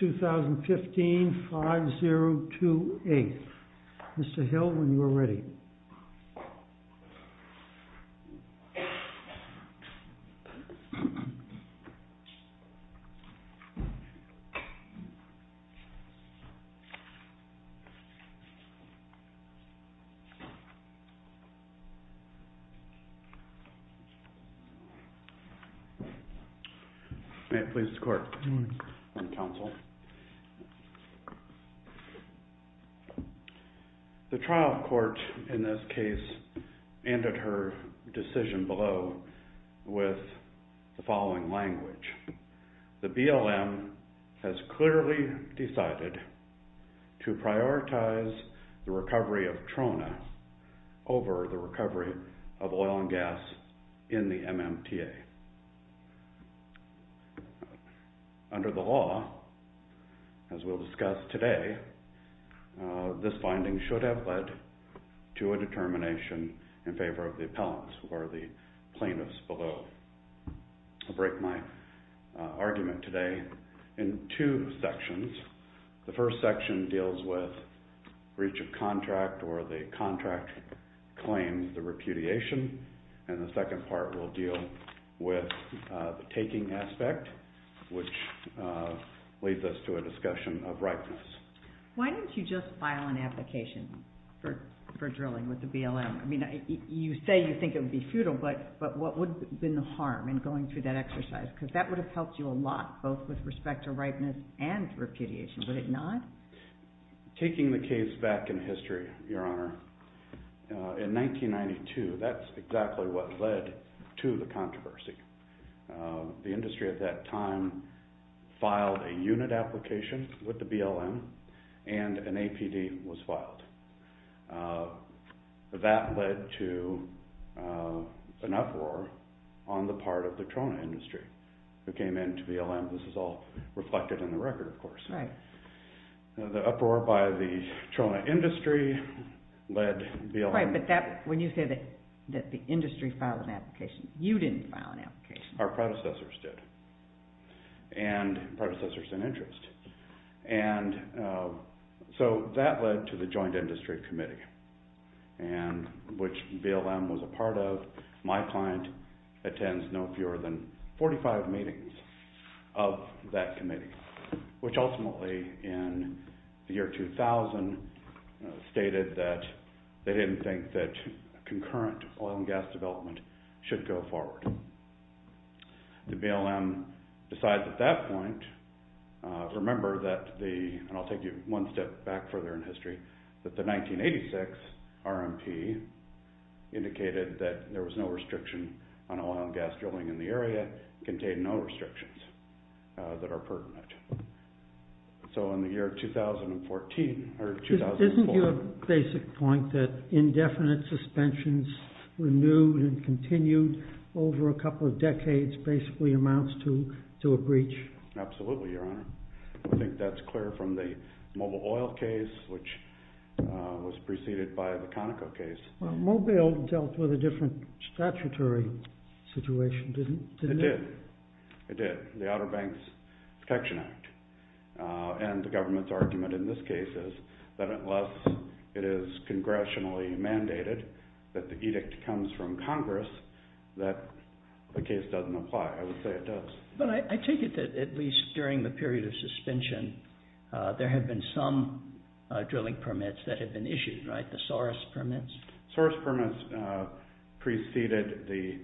2015, 5-0-2-8. Mr. Hill, when you are ready. May it please the court and counsel. The trial court in this case ended her decision below with the following language. The BLM has clearly decided to prioritize the recovery of Trona over the recovery of oil and gas in the MMTA. Under the law, as we'll discuss today, this finding should have led to a determination in favor of the appellant or the plaintiff's below. I'll break my argument today in two sections. The first section deals with breach of contract or the contract claims, the repudiation, and the second part will deal with the taking aspect, which leads us to a discussion of ripeness. Why don't you just file an application for drilling with the BLM? I mean, you say you think it would be futile, but what would have been the harm in going through that exercise? Because that would have helped you a lot, both with respect to ripeness and repudiation, would it not? Taking the case back in history, Your Honor, in 1992, that's exactly what led to the controversy. The industry at that time filed a unit application with the BLM and an APD was filed. That led to an uproar on the part of the Trona industry who came in to BLM. This is all reflected in the record, of course. The uproar by the Trona industry led BLM... Right, but when you say that the industry filed an application, you didn't file an application. Our predecessors did, and predecessors in interest. So that led to the Joint Industry Committee, which BLM was a part of. My client attends no fewer than 45 meetings of that committee, which ultimately in the year 2000 stated that they didn't think that concurrent oil and gas development should go forward. The BLM decides at that point, remember that the, and I'll take you one step back further in history, that the 1986 RMP indicated that there was no restriction on oil and gas drilling in the area, contained no restrictions that are pertinent. So in the year 2014, or 2004... Isn't your basic point that indefinite suspensions renewed and continued over a couple of decades basically amounts to a breach? Absolutely, Your Honor. I think that's clear from the Mobil oil case, which was preceded by the Conoco case. Well, Mobil dealt with a statutory situation, didn't it? It did. It did. The Outer Banks Protection Act. And the government's argument in this case is that unless it is congressionally mandated, that the edict comes from Congress, that the case doesn't apply. I would say it does. But I take it that at least during the period of suspension, there had been some drilling permits that had been issued, the SORUS permits. SORUS permits preceded the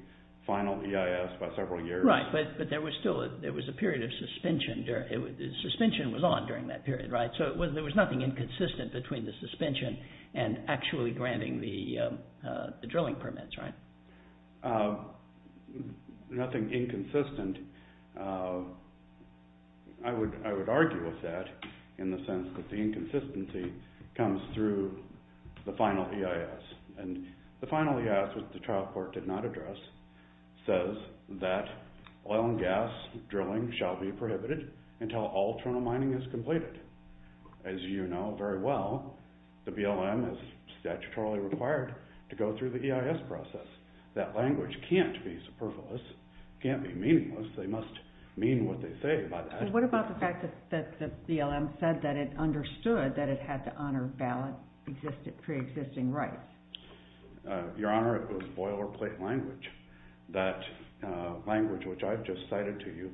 final EIS by several years. Right, but there was still, there was a period of suspension. The suspension was on during that period, right? So there was nothing inconsistent between the suspension and actually granting the drilling permits, right? Nothing inconsistent. I would argue with that in the sense that the inconsistency comes through the final EIS. And the final EIS, which the trial court did not address, says that oil and gas drilling shall be prohibited until all terminal mining is completed. As you know very well, the BLM is statutorily required to go through the EIS process. That language can't be superfluous, can't be meaningless. They must mean what they say by that. What about the fact that the BLM said that it understood that it had to honor valid pre-existing rights? Your Honor, it was boilerplate language. That language, which I've just cited to you,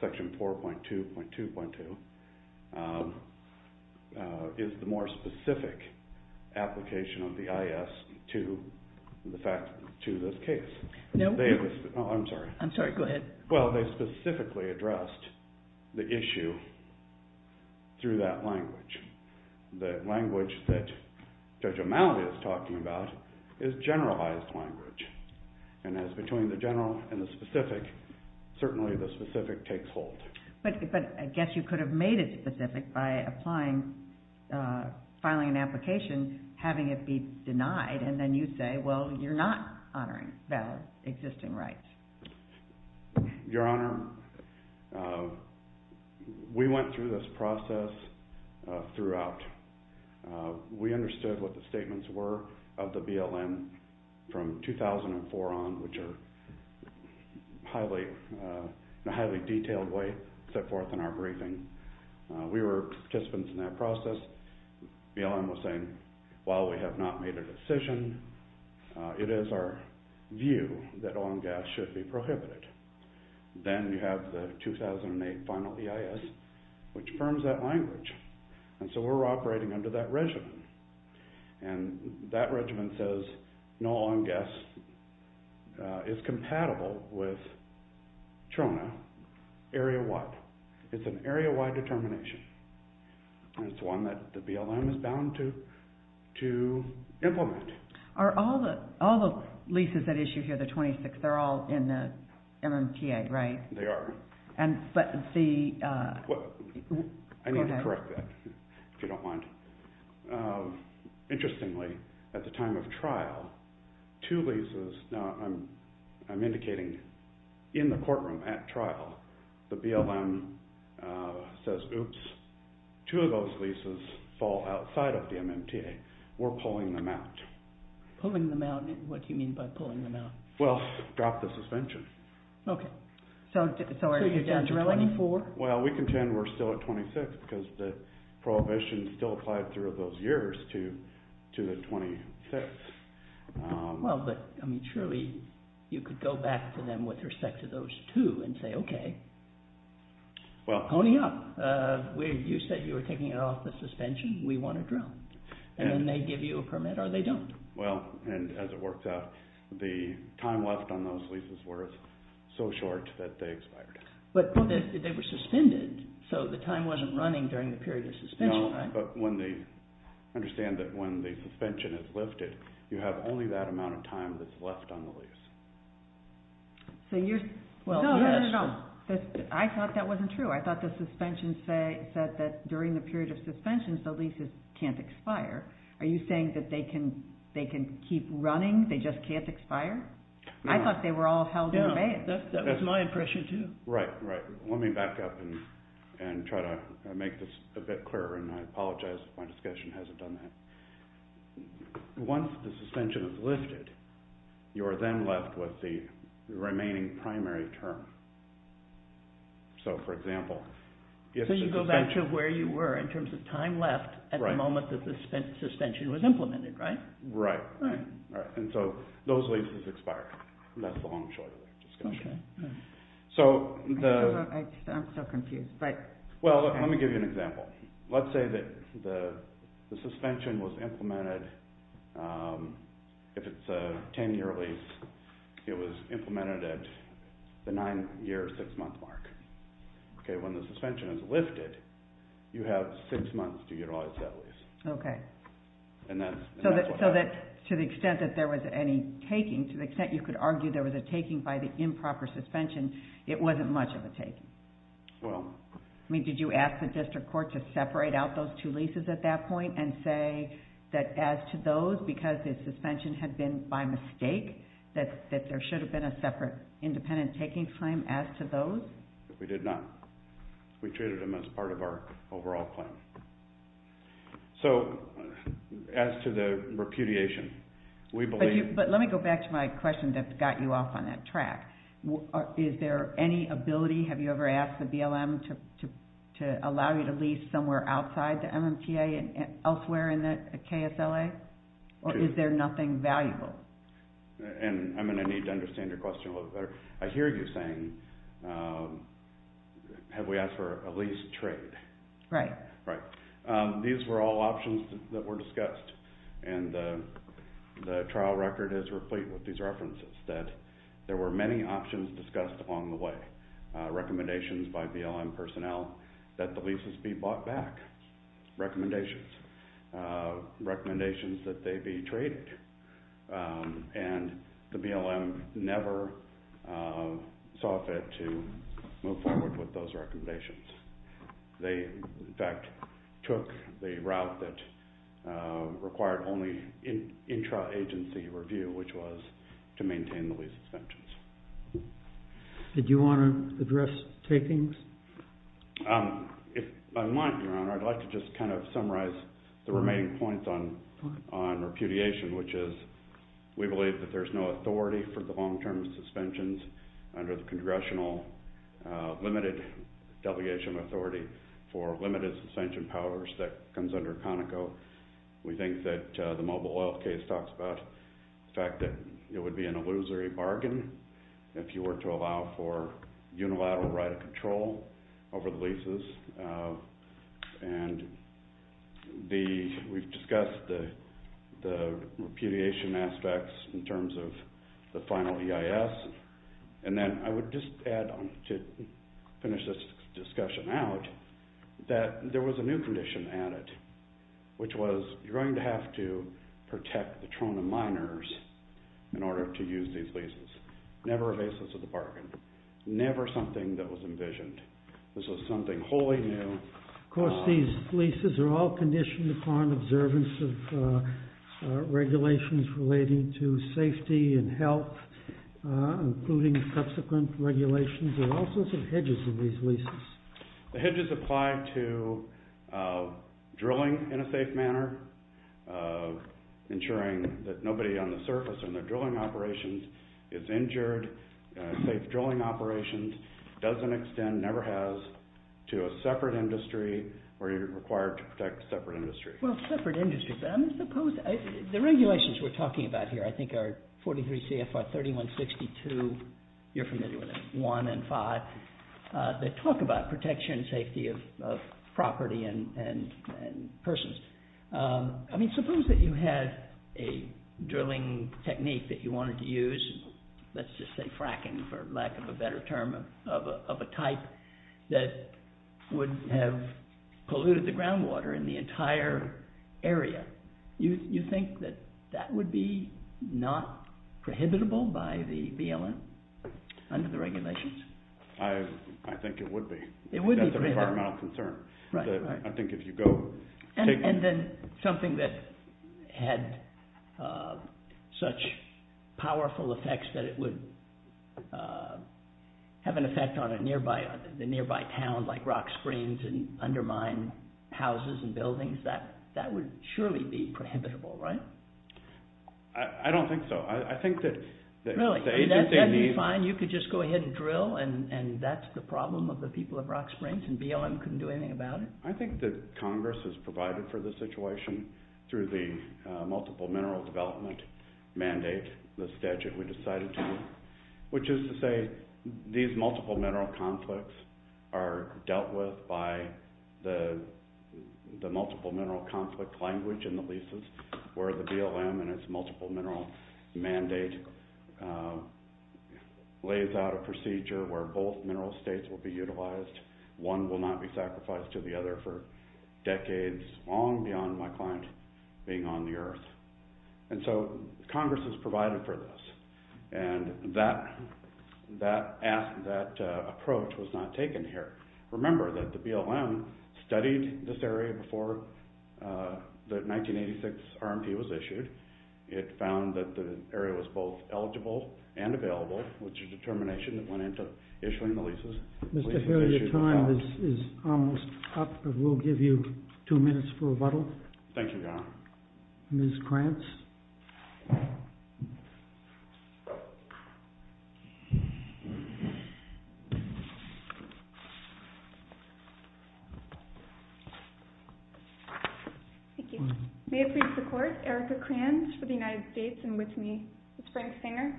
Section 4.2.2.2, is the more specific application of the EIS to this case. No. I'm sorry. I'm sorry, go ahead. Well, they specifically addressed the issue through that language. The language that Judge O'Malley is talking about is generalized language. And as between the general and the specific, certainly the specific takes hold. But I guess you could have made it specific by applying, filing an application, having it be denied, and then you say, well, you're not honoring valid existing rights. Your Honor, we went through this process throughout. We understood what the statements were of the BLM from 2004 on, which are highly, in a highly detailed way, set forth in our briefing. We were participants in that process. BLM was saying, while we have not made a decision, it is our view that oil and gas should be prohibited. Then you have the 2008 final EIS, which firms that language. And so we're operating under that regimen. And that regimen says no oil and gas is compatible with TRONA area-wide. It's an area-wide determination. And it's one that the BLM is bound to implement. Are all the leases that issue here, the 26, they're all in the MMTA, right? They are. But the... I need to correct that, if you don't mind. Interestingly, at the time of trial, two leases, I'm indicating in the courtroom at trial, the BLM says, oops, two of those leases fall outside of the MMTA. We're pulling them out. Pulling them out? What do you mean by pulling them out? Well, drop the suspension. Okay. So you're down to 24? Well, we contend we're still at 26, because the prohibition still applied through those years to the 26. Well, but, I mean, surely you could go back to them with respect to those two and say, okay, pony up. You said you were taking it off the suspension. We want to drill. And then they give you a permit or they don't. Well, and as it works out, the time left on those leases were so short that they expired. But they were suspended, so the time wasn't running during the period of suspension, right? No, but understand that when the suspension is lifted, you have only that amount of time that's left on the lease. So you're... No, no, no. I thought that wasn't true. I thought the suspension said that during the period of suspensions, the leases can't expire. Are you saying that they can keep running, they just can't expire? I thought they were all held in abeyance. That was my impression, too. Right, right. Let me back up and try to make this a bit better. Once the suspension is lifted, you are then left with the remaining primary term. So, for example, if the suspension... So you go back to where you were in terms of time left at the moment that the suspension was implemented, right? Right, right. And so those leases expired. That's the long short of the discussion. Okay. I'm so confused, but... Well, let me give you an example. Let's say that the suspension was implemented, if it's a 10-year lease, it was implemented at the 9-year, 6-month mark. Okay, when the suspension is lifted, you have 6 months to utilize that lease. Okay. So that, to the extent that there was any taking, to the extent you could argue there was a taking by the improper suspension, it wasn't much of a taking. Well... I mean, did you ask the district court to separate out those two leases at that point and say that as to those, because the suspension had been by mistake, that there should have been a separate independent taking claim as to those? We did not. We treated them as part of our overall plan. So, as to the repudiation, we believe... But let me go back to my question that got you off on that track. Is there any ability, have you ever asked the BLM to allow you to lease somewhere outside the MMTA and elsewhere in the KSLA? Or is there nothing valuable? And I'm going to need to understand your question a little better. I hear you saying, have we asked for a lease trade? Right. Right. These were all options that were discussed, and the trial record is replete with these references, that there were many options discussed along the way. Recommendations by BLM personnel that the leases be brought back. Recommendations. Recommendations that they be traded. And the BLM never saw fit to move forward with those recommendations. They, in fact, took the route that required only intra-agency review, which was to maintain the lease suspensions. Did you want to address takings? If I might, Your Honor, I'd like to just kind of summarize the remaining points on repudiation, which is we believe that there's no authority for the long-term suspensions under the congressional limited delegation authority for limited suspension powers that comes under Conoco. We think that the mobile oil case talks about the fact that it would be an illusory bargain if you were to allow for unilateral right of control over the leases. And we've discussed the repudiation aspects in terms of the final EIS. And then I would just add, to finish this discussion out, that there was a new condition added, which was you're going to have to protect the Trona miners in order to use these leases. Never a basis of the bargain. Never something that was envisioned. This was something wholly new. Of course, these leases are all conditioned upon observance of regulations relating to safety and health, including subsequent regulations. And there are all sorts of hedges in these leases. The hedges apply to drilling in a safe manner, ensuring that nobody on the surface or in the drilling operations is injured. Safe drilling operations doesn't extend, never has, to a separate industry where you're required to protect a separate industry. Well, separate industries. The regulations we're talking about here, I think are 43 CFR 3162, you're familiar with it, 1 and 5, that talk about protection and safety of property and persons. I mean, suppose that you had a drilling technique that you wanted to use, let's just say fracking for lack of a better term, of a type that would have polluted the groundwater in the entire area. You think that that would be not prohibitable by the BLM under the regulations? I think it would be. It would be prohibitable. That's an environmental concern. And then something that had such powerful effects that it would have an effect on the nearby town, like rock springs, and undermine houses and buildings, that would surely be prohibitable, right? I don't think so. I think that the agency needs... I think that Congress has provided for the situation through the multiple mineral development mandate, the statute we decided to make, which is to say these multiple mineral conflicts are dealt with by the multiple mineral conflict language in the leases, where the BLM and its multiple mineral mandate lays out a procedure where both mineral states will be utilized. One will not be used or the other for decades, long beyond my client being on the earth. And so Congress has provided for this. And that approach was not taken here. Remember that the BLM studied this area before the 1986 RMP was issued. It found that the area was both eligible and available, which is a determination that went into issuing the leases. Mr. Healy, your time is almost up. We'll give you two minutes for rebuttal. Thank you, Your Honor. Ms. Kranz. Thank you. May it please the Court, Erica Kranz for the United States and with me, Ms. Brink-Sanger.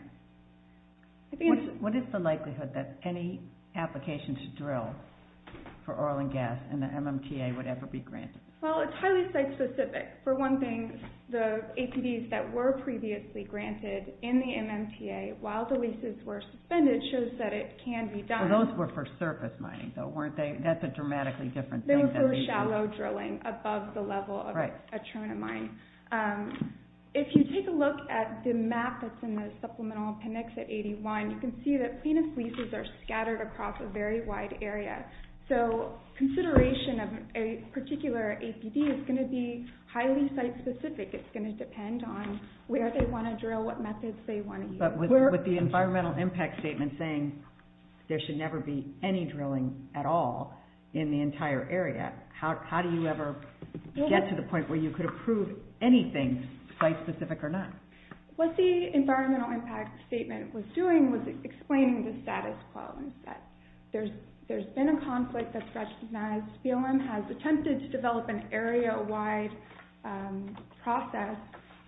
What is the likelihood that any application to drill for oil and gas in the MMTA would ever be granted? Well, it's highly site-specific. For one thing, the APDs that were previously granted in the MMTA while the leases were suspended shows that it can be done. So those were for surface mining, though, weren't they? That's a dramatically different thing. For shallow drilling above the level of a terminal mine. If you take a look at the map that's in the supplemental appendix at 81, you can see that plaintiff's leases are scattered across a very wide area. So consideration of a particular APD is going to be highly site-specific. It's going to depend on where they want to drill, what methods they want to use. But with the environmental impact statement saying there should never be any drilling at all in the entire area, how do you ever get to the point where you could approve anything site-specific or not? What the environmental impact statement was doing was explaining the status quo and that there's been a conflict that's recognized. BLM has attempted to develop an area-wide process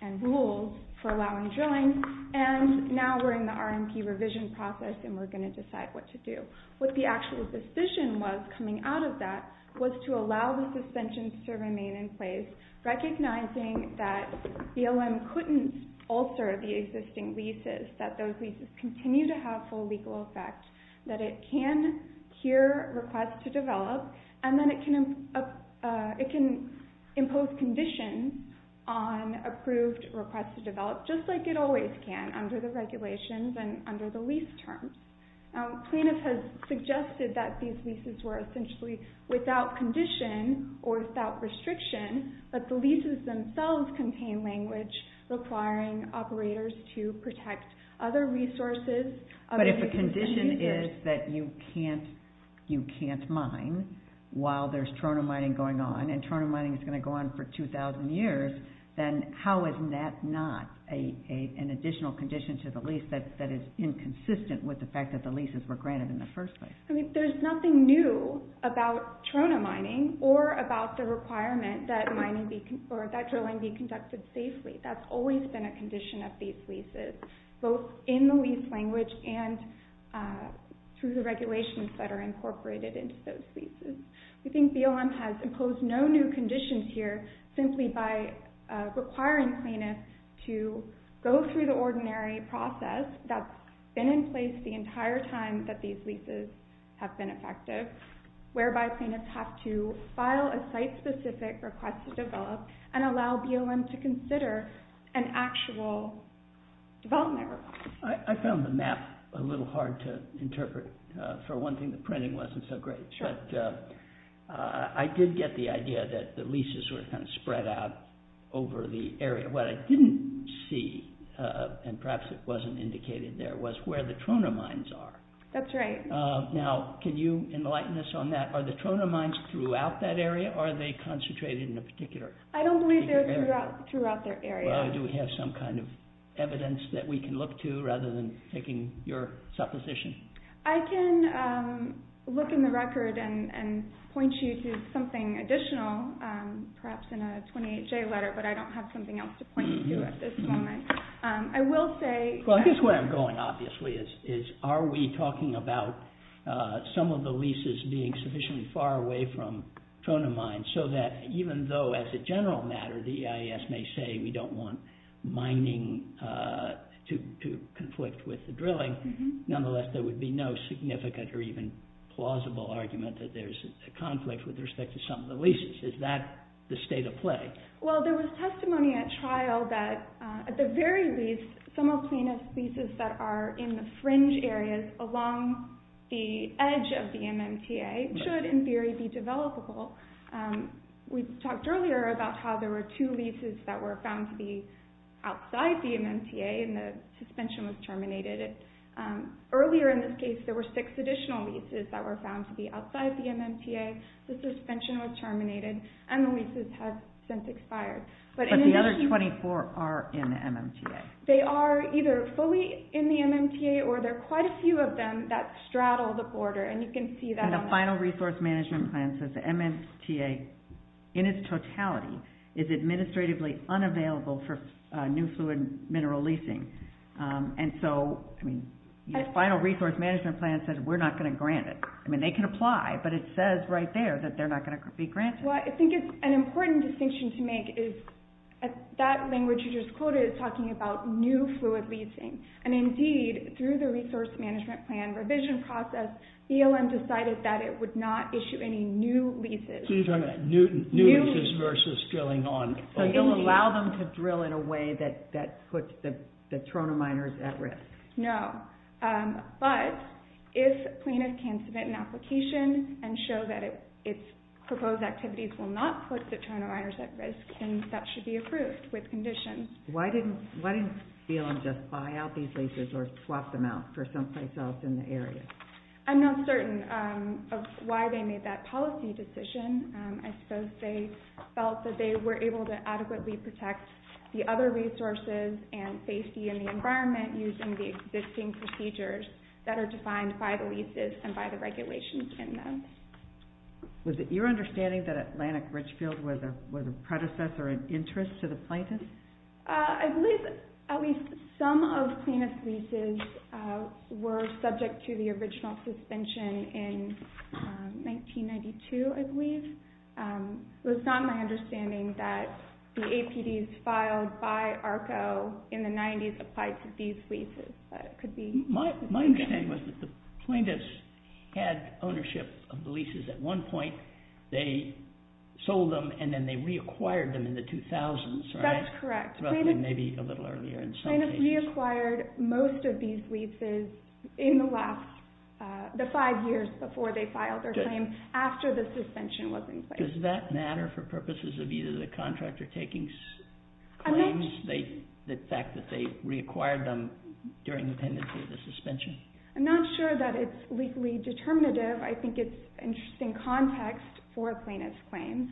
and rules for allowing drilling, and now we're in the RMP revision process and we're going to decide what to do. What the actual decision was coming out of that was to allow the suspensions to remain in place, recognizing that BLM couldn't alter the existing leases, that those leases continue to have full legal effect, that it can hear requests to develop, and then it can impose conditions on approved requests to develop, just like it always can under the regulations and under the lease terms. Plaintiff has suggested that these leases were essentially without condition or without restriction, but the leases themselves contain language requiring operators to protect other resources. But if a condition is that you can't mine while there's Toronto mining going on, and Toronto mining is going to go on for 2,000 years, then how is that not an additional condition to the lease that is inconsistent with the fact that the leases were granted in the first place? There's nothing new about Toronto mining or about the requirement that drilling be conducted safely. That's always been a condition of these leases, both in the lease language and through the regulations that are incorporated into those leases. We think BLM has imposed no new conditions here simply by requiring plaintiffs to go through the ordinary process that's been in place the entire time that these leases have been effective, whereby plaintiffs have to file a site-specific request to develop and allow BLM to consider an actual development request. I found the map a little hard to interpret. For one thing, the printing wasn't so great, but I did get the idea that the leases were kind of spread out over the area. What I didn't see, and perhaps it wasn't indicated there, was where the Toronto mines are. That's right. Now, can you enlighten us on that? Are the Toronto mines throughout that area, or are they concentrated in a particular area? I don't believe they're throughout their area. Do we have some kind of evidence that we can look to, rather than taking your supposition? I can look in the record and point you to something additional, perhaps in a 28J letter, but I don't have something else to point you to at this moment. I guess where I'm going, obviously, is are we talking about some of the leases being sufficiently far away from Toronto mines, so that even though, as a general matter, the EIS may say we don't want mining to conflict with the drilling, nonetheless, there would be no significant or even plausible argument that there's a conflict with respect to some of the leases. Is that the state of play? Well, there was testimony at trial that, at the very least, some of the leases that are in the fringe areas along the edge of the MMTA should, in theory, be developable. We talked earlier about how there were two leases that were found to be outside the MMTA, and the suspension was terminated. Earlier in this case, there were six additional leases that were found to be outside the MMTA, the suspension was terminated, and the leases have since expired. But the other 24 are in the MMTA? They are either fully in the MMTA, or there are quite a few of them that straddle the border, and you can see that on the... The final resource management plan says we're not going to grant it. I mean, they can apply, but it says right there that they're not going to be granted. Well, I think it's an important distinction to make is that language you just quoted is talking about new fluid leasing, and indeed, through the resource management plan revision process, ELM decided that it would not issue any new leases. So you're talking about new leases versus drilling on... So you'll allow them to drill in a way that puts the Toronto miners at risk? No, but if plaintiff can submit an application and show that its proposed activities will not put the Toronto miners at risk, then that should be approved with conditions. Why didn't ELM just buy out these leases or swap them out for someplace else in the area? I'm not certain of why they made that policy decision. I suppose they felt that they were able to adequately protect the other resources and safety in the environment using the existing procedures that are defined by the leases and by the regulations in them. Was it your understanding that Atlantic Richfield was a predecessor in interest to the plaintiffs? I believe at least some of plaintiff's leases were subject to the original suspension in 1992, I believe. It was not my understanding that the APDs filed by ARCO in the 90s applied to these leases. My understanding was that the plaintiffs had ownership of the leases at one point, they sold them, and then they reacquired them in the 2000s, right? That's correct. Plaintiffs reacquired most of these leases in the five years before they filed their claim, after the suspension was in place. Does that matter for purposes of either the contractor taking claims, the fact that they reacquired them during the pendency of the suspension? I'm not sure that it's legally determinative. I think it's interesting context for plaintiff's claims.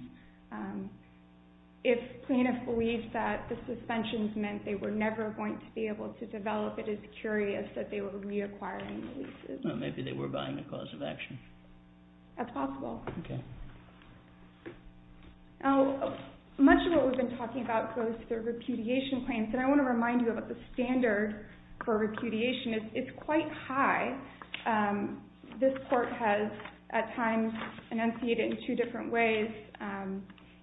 If plaintiffs believed that the suspensions meant they were never going to be able to develop it, it's curious that they were reacquiring the leases. Maybe they were buying a cause of action. That's possible. Okay. Much of what we've been talking about goes to the repudiation claims, and I want to remind you about the standard for repudiation. It's quite high. This court has, at times, enunciated in two different ways,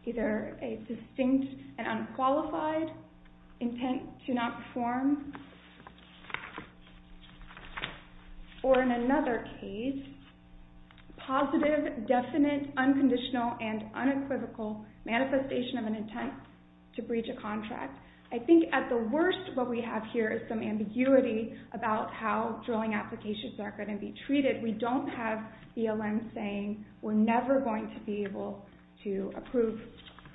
either a distinct and unqualified intent to not perform, or in another case, positive, definite, unconditional, and unequivocal manifestation of an intent to breach a contract. I think, at the worst, what we have here is some ambiguity about how drilling applications are going to be treated. We don't have BLM saying, we're never going to be able to approve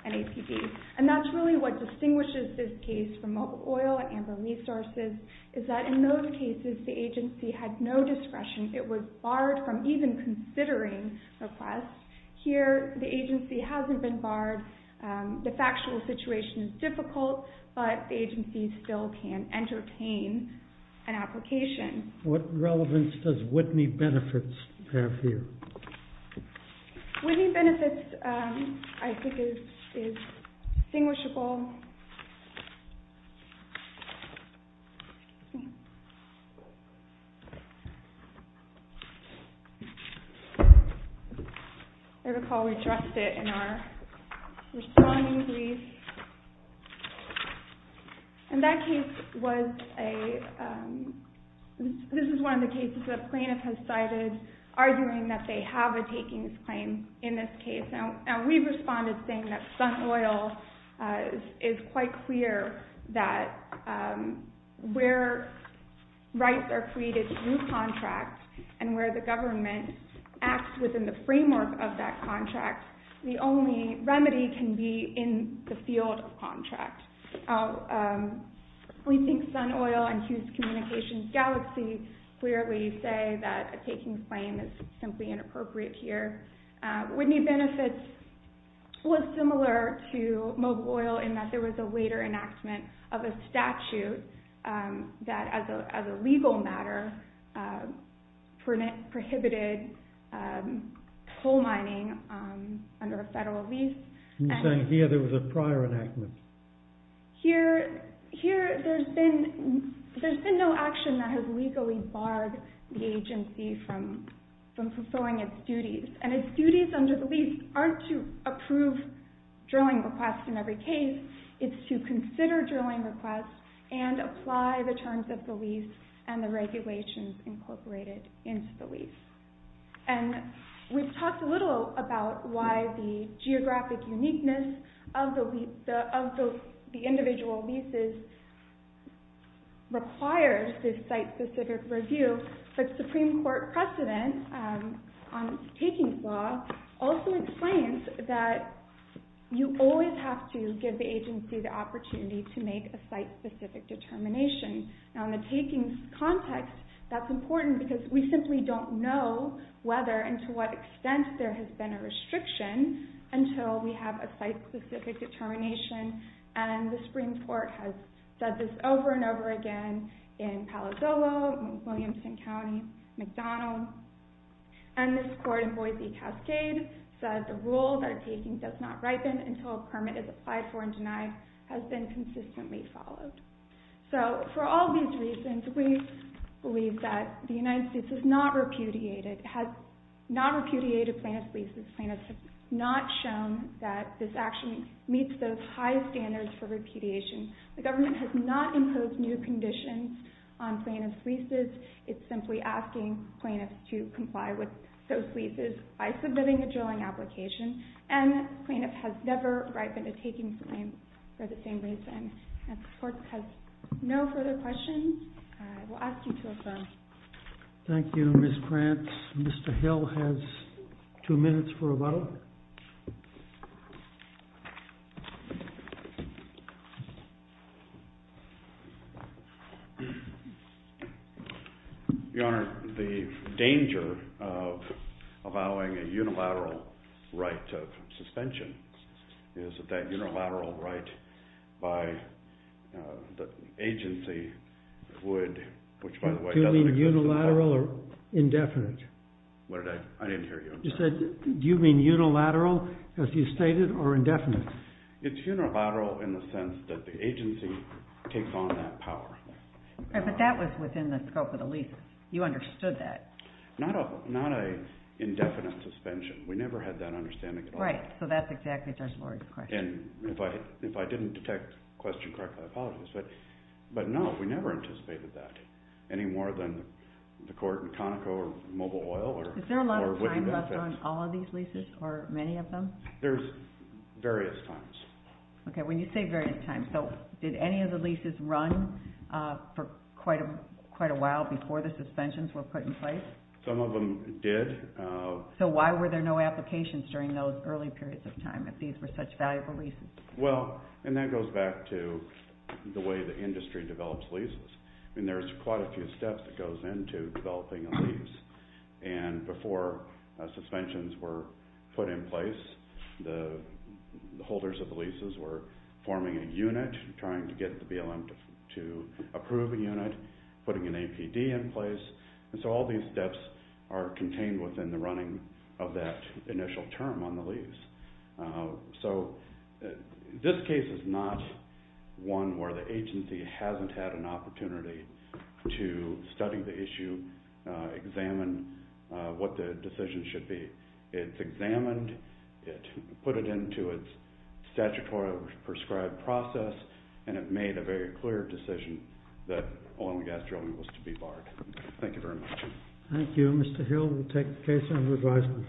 an APB. That's really what distinguishes this case from mobile oil and amber resources, is that in those cases, the agency had no discretion. It was barred from even considering requests. Here, the agency hasn't been barred. The factual situation is difficult, but the agency still can entertain an application. What relevance does Whitney Benefits have here? Whitney Benefits, I think, is distinguishable. I recall we addressed it in our responding brief. This is one of the cases that a plaintiff has cited, arguing that they have a takings claim in this case. We responded saying that Sun Oil is quite clear that where rights are created through contracts, and where the government acts within the framework of that contract, the only remedy can be in the field of contract. We think Sun Oil and Hughes Communications Galaxy clearly say that a takings claim is simply inappropriate here. Whitney Benefits was similar to mobile oil in that there was a later enactment of a statute that, as a legal matter, prohibited coal mining under a federal lease. You're saying here there was a prior enactment? Here, there's been no action that has legally barred the agency from fulfilling its duties. Its duties under the lease aren't to approve drilling requests in every case. It's to consider drilling requests and apply the terms of the lease and the regulations incorporated into the lease. We've talked a little about why the geographic uniqueness of the individual leases requires this site-specific review. The Supreme Court precedent on takings law also explains that you always have to give the agency the opportunity to make a site-specific determination. In the takings context, that's important because we simply don't know whether and to what extent there has been a restriction until we have a site-specific determination. The Supreme Court has said this over and over again in Palo Dolo, Williamson County, McDonald. This court in Boise Cascade says the rule that a taking does not ripen until a permit is applied for and denied has been consistently followed. For all these reasons, we believe that the United States has not repudiated plaintiff's leases. Plaintiffs have not shown that this action meets those high standards for repudiation. The government has not imposed new conditions on plaintiff's leases. It's simply asking plaintiffs to comply with those leases by submitting a drilling application. And plaintiff has never ripened a taking claim for the same reason. If the court has no further questions, I will ask you to affirm. Thank you, Ms. Prance. Mr. Hill has two minutes for rebuttal. Your Honor, the danger of allowing a unilateral right of suspension is that that unilateral right by the agency would, which by the way doesn't include the court. Do you mean unilateral or indefinite? What did I? I didn't hear you. You said, do you mean unilateral, as you stated, or indefinite? It's unilateral in the sense that the agency takes on that power. But that was within the scope of the lease. You understood that. Not an indefinite suspension. We never had that understanding. Right, so that's exactly Judge Lurie's question. And if I didn't detect the question correctly, I apologize. But no, we never anticipated that any more than the court in Conoco or Mobile Oil. Is there a lot of time left on all of these leases or many of them? There's various times. Okay, when you say various times, so did any of the leases run for quite a while before the suspensions were put in place? Some of them did. So why were there no applications during those early periods of time if these were such valuable leases? Well, and that goes back to the way the industry develops leases. I mean, there's quite a few steps that goes into developing a lease. And before suspensions were put in place, the holders of the leases were forming a unit, trying to get the BLM to approve a unit, putting an APD in place. And so all these steps are contained within the running of that initial term on the lease. So this case is not one where the agency hasn't had an opportunity to study the issue, examine what the decision should be. It's examined. It put it into its statutory prescribed process, and it made a very clear decision that oil and gas drilling was to be barred. Thank you very much. Thank you. Thank you, Mr. Hill. We'll take the case under advisement.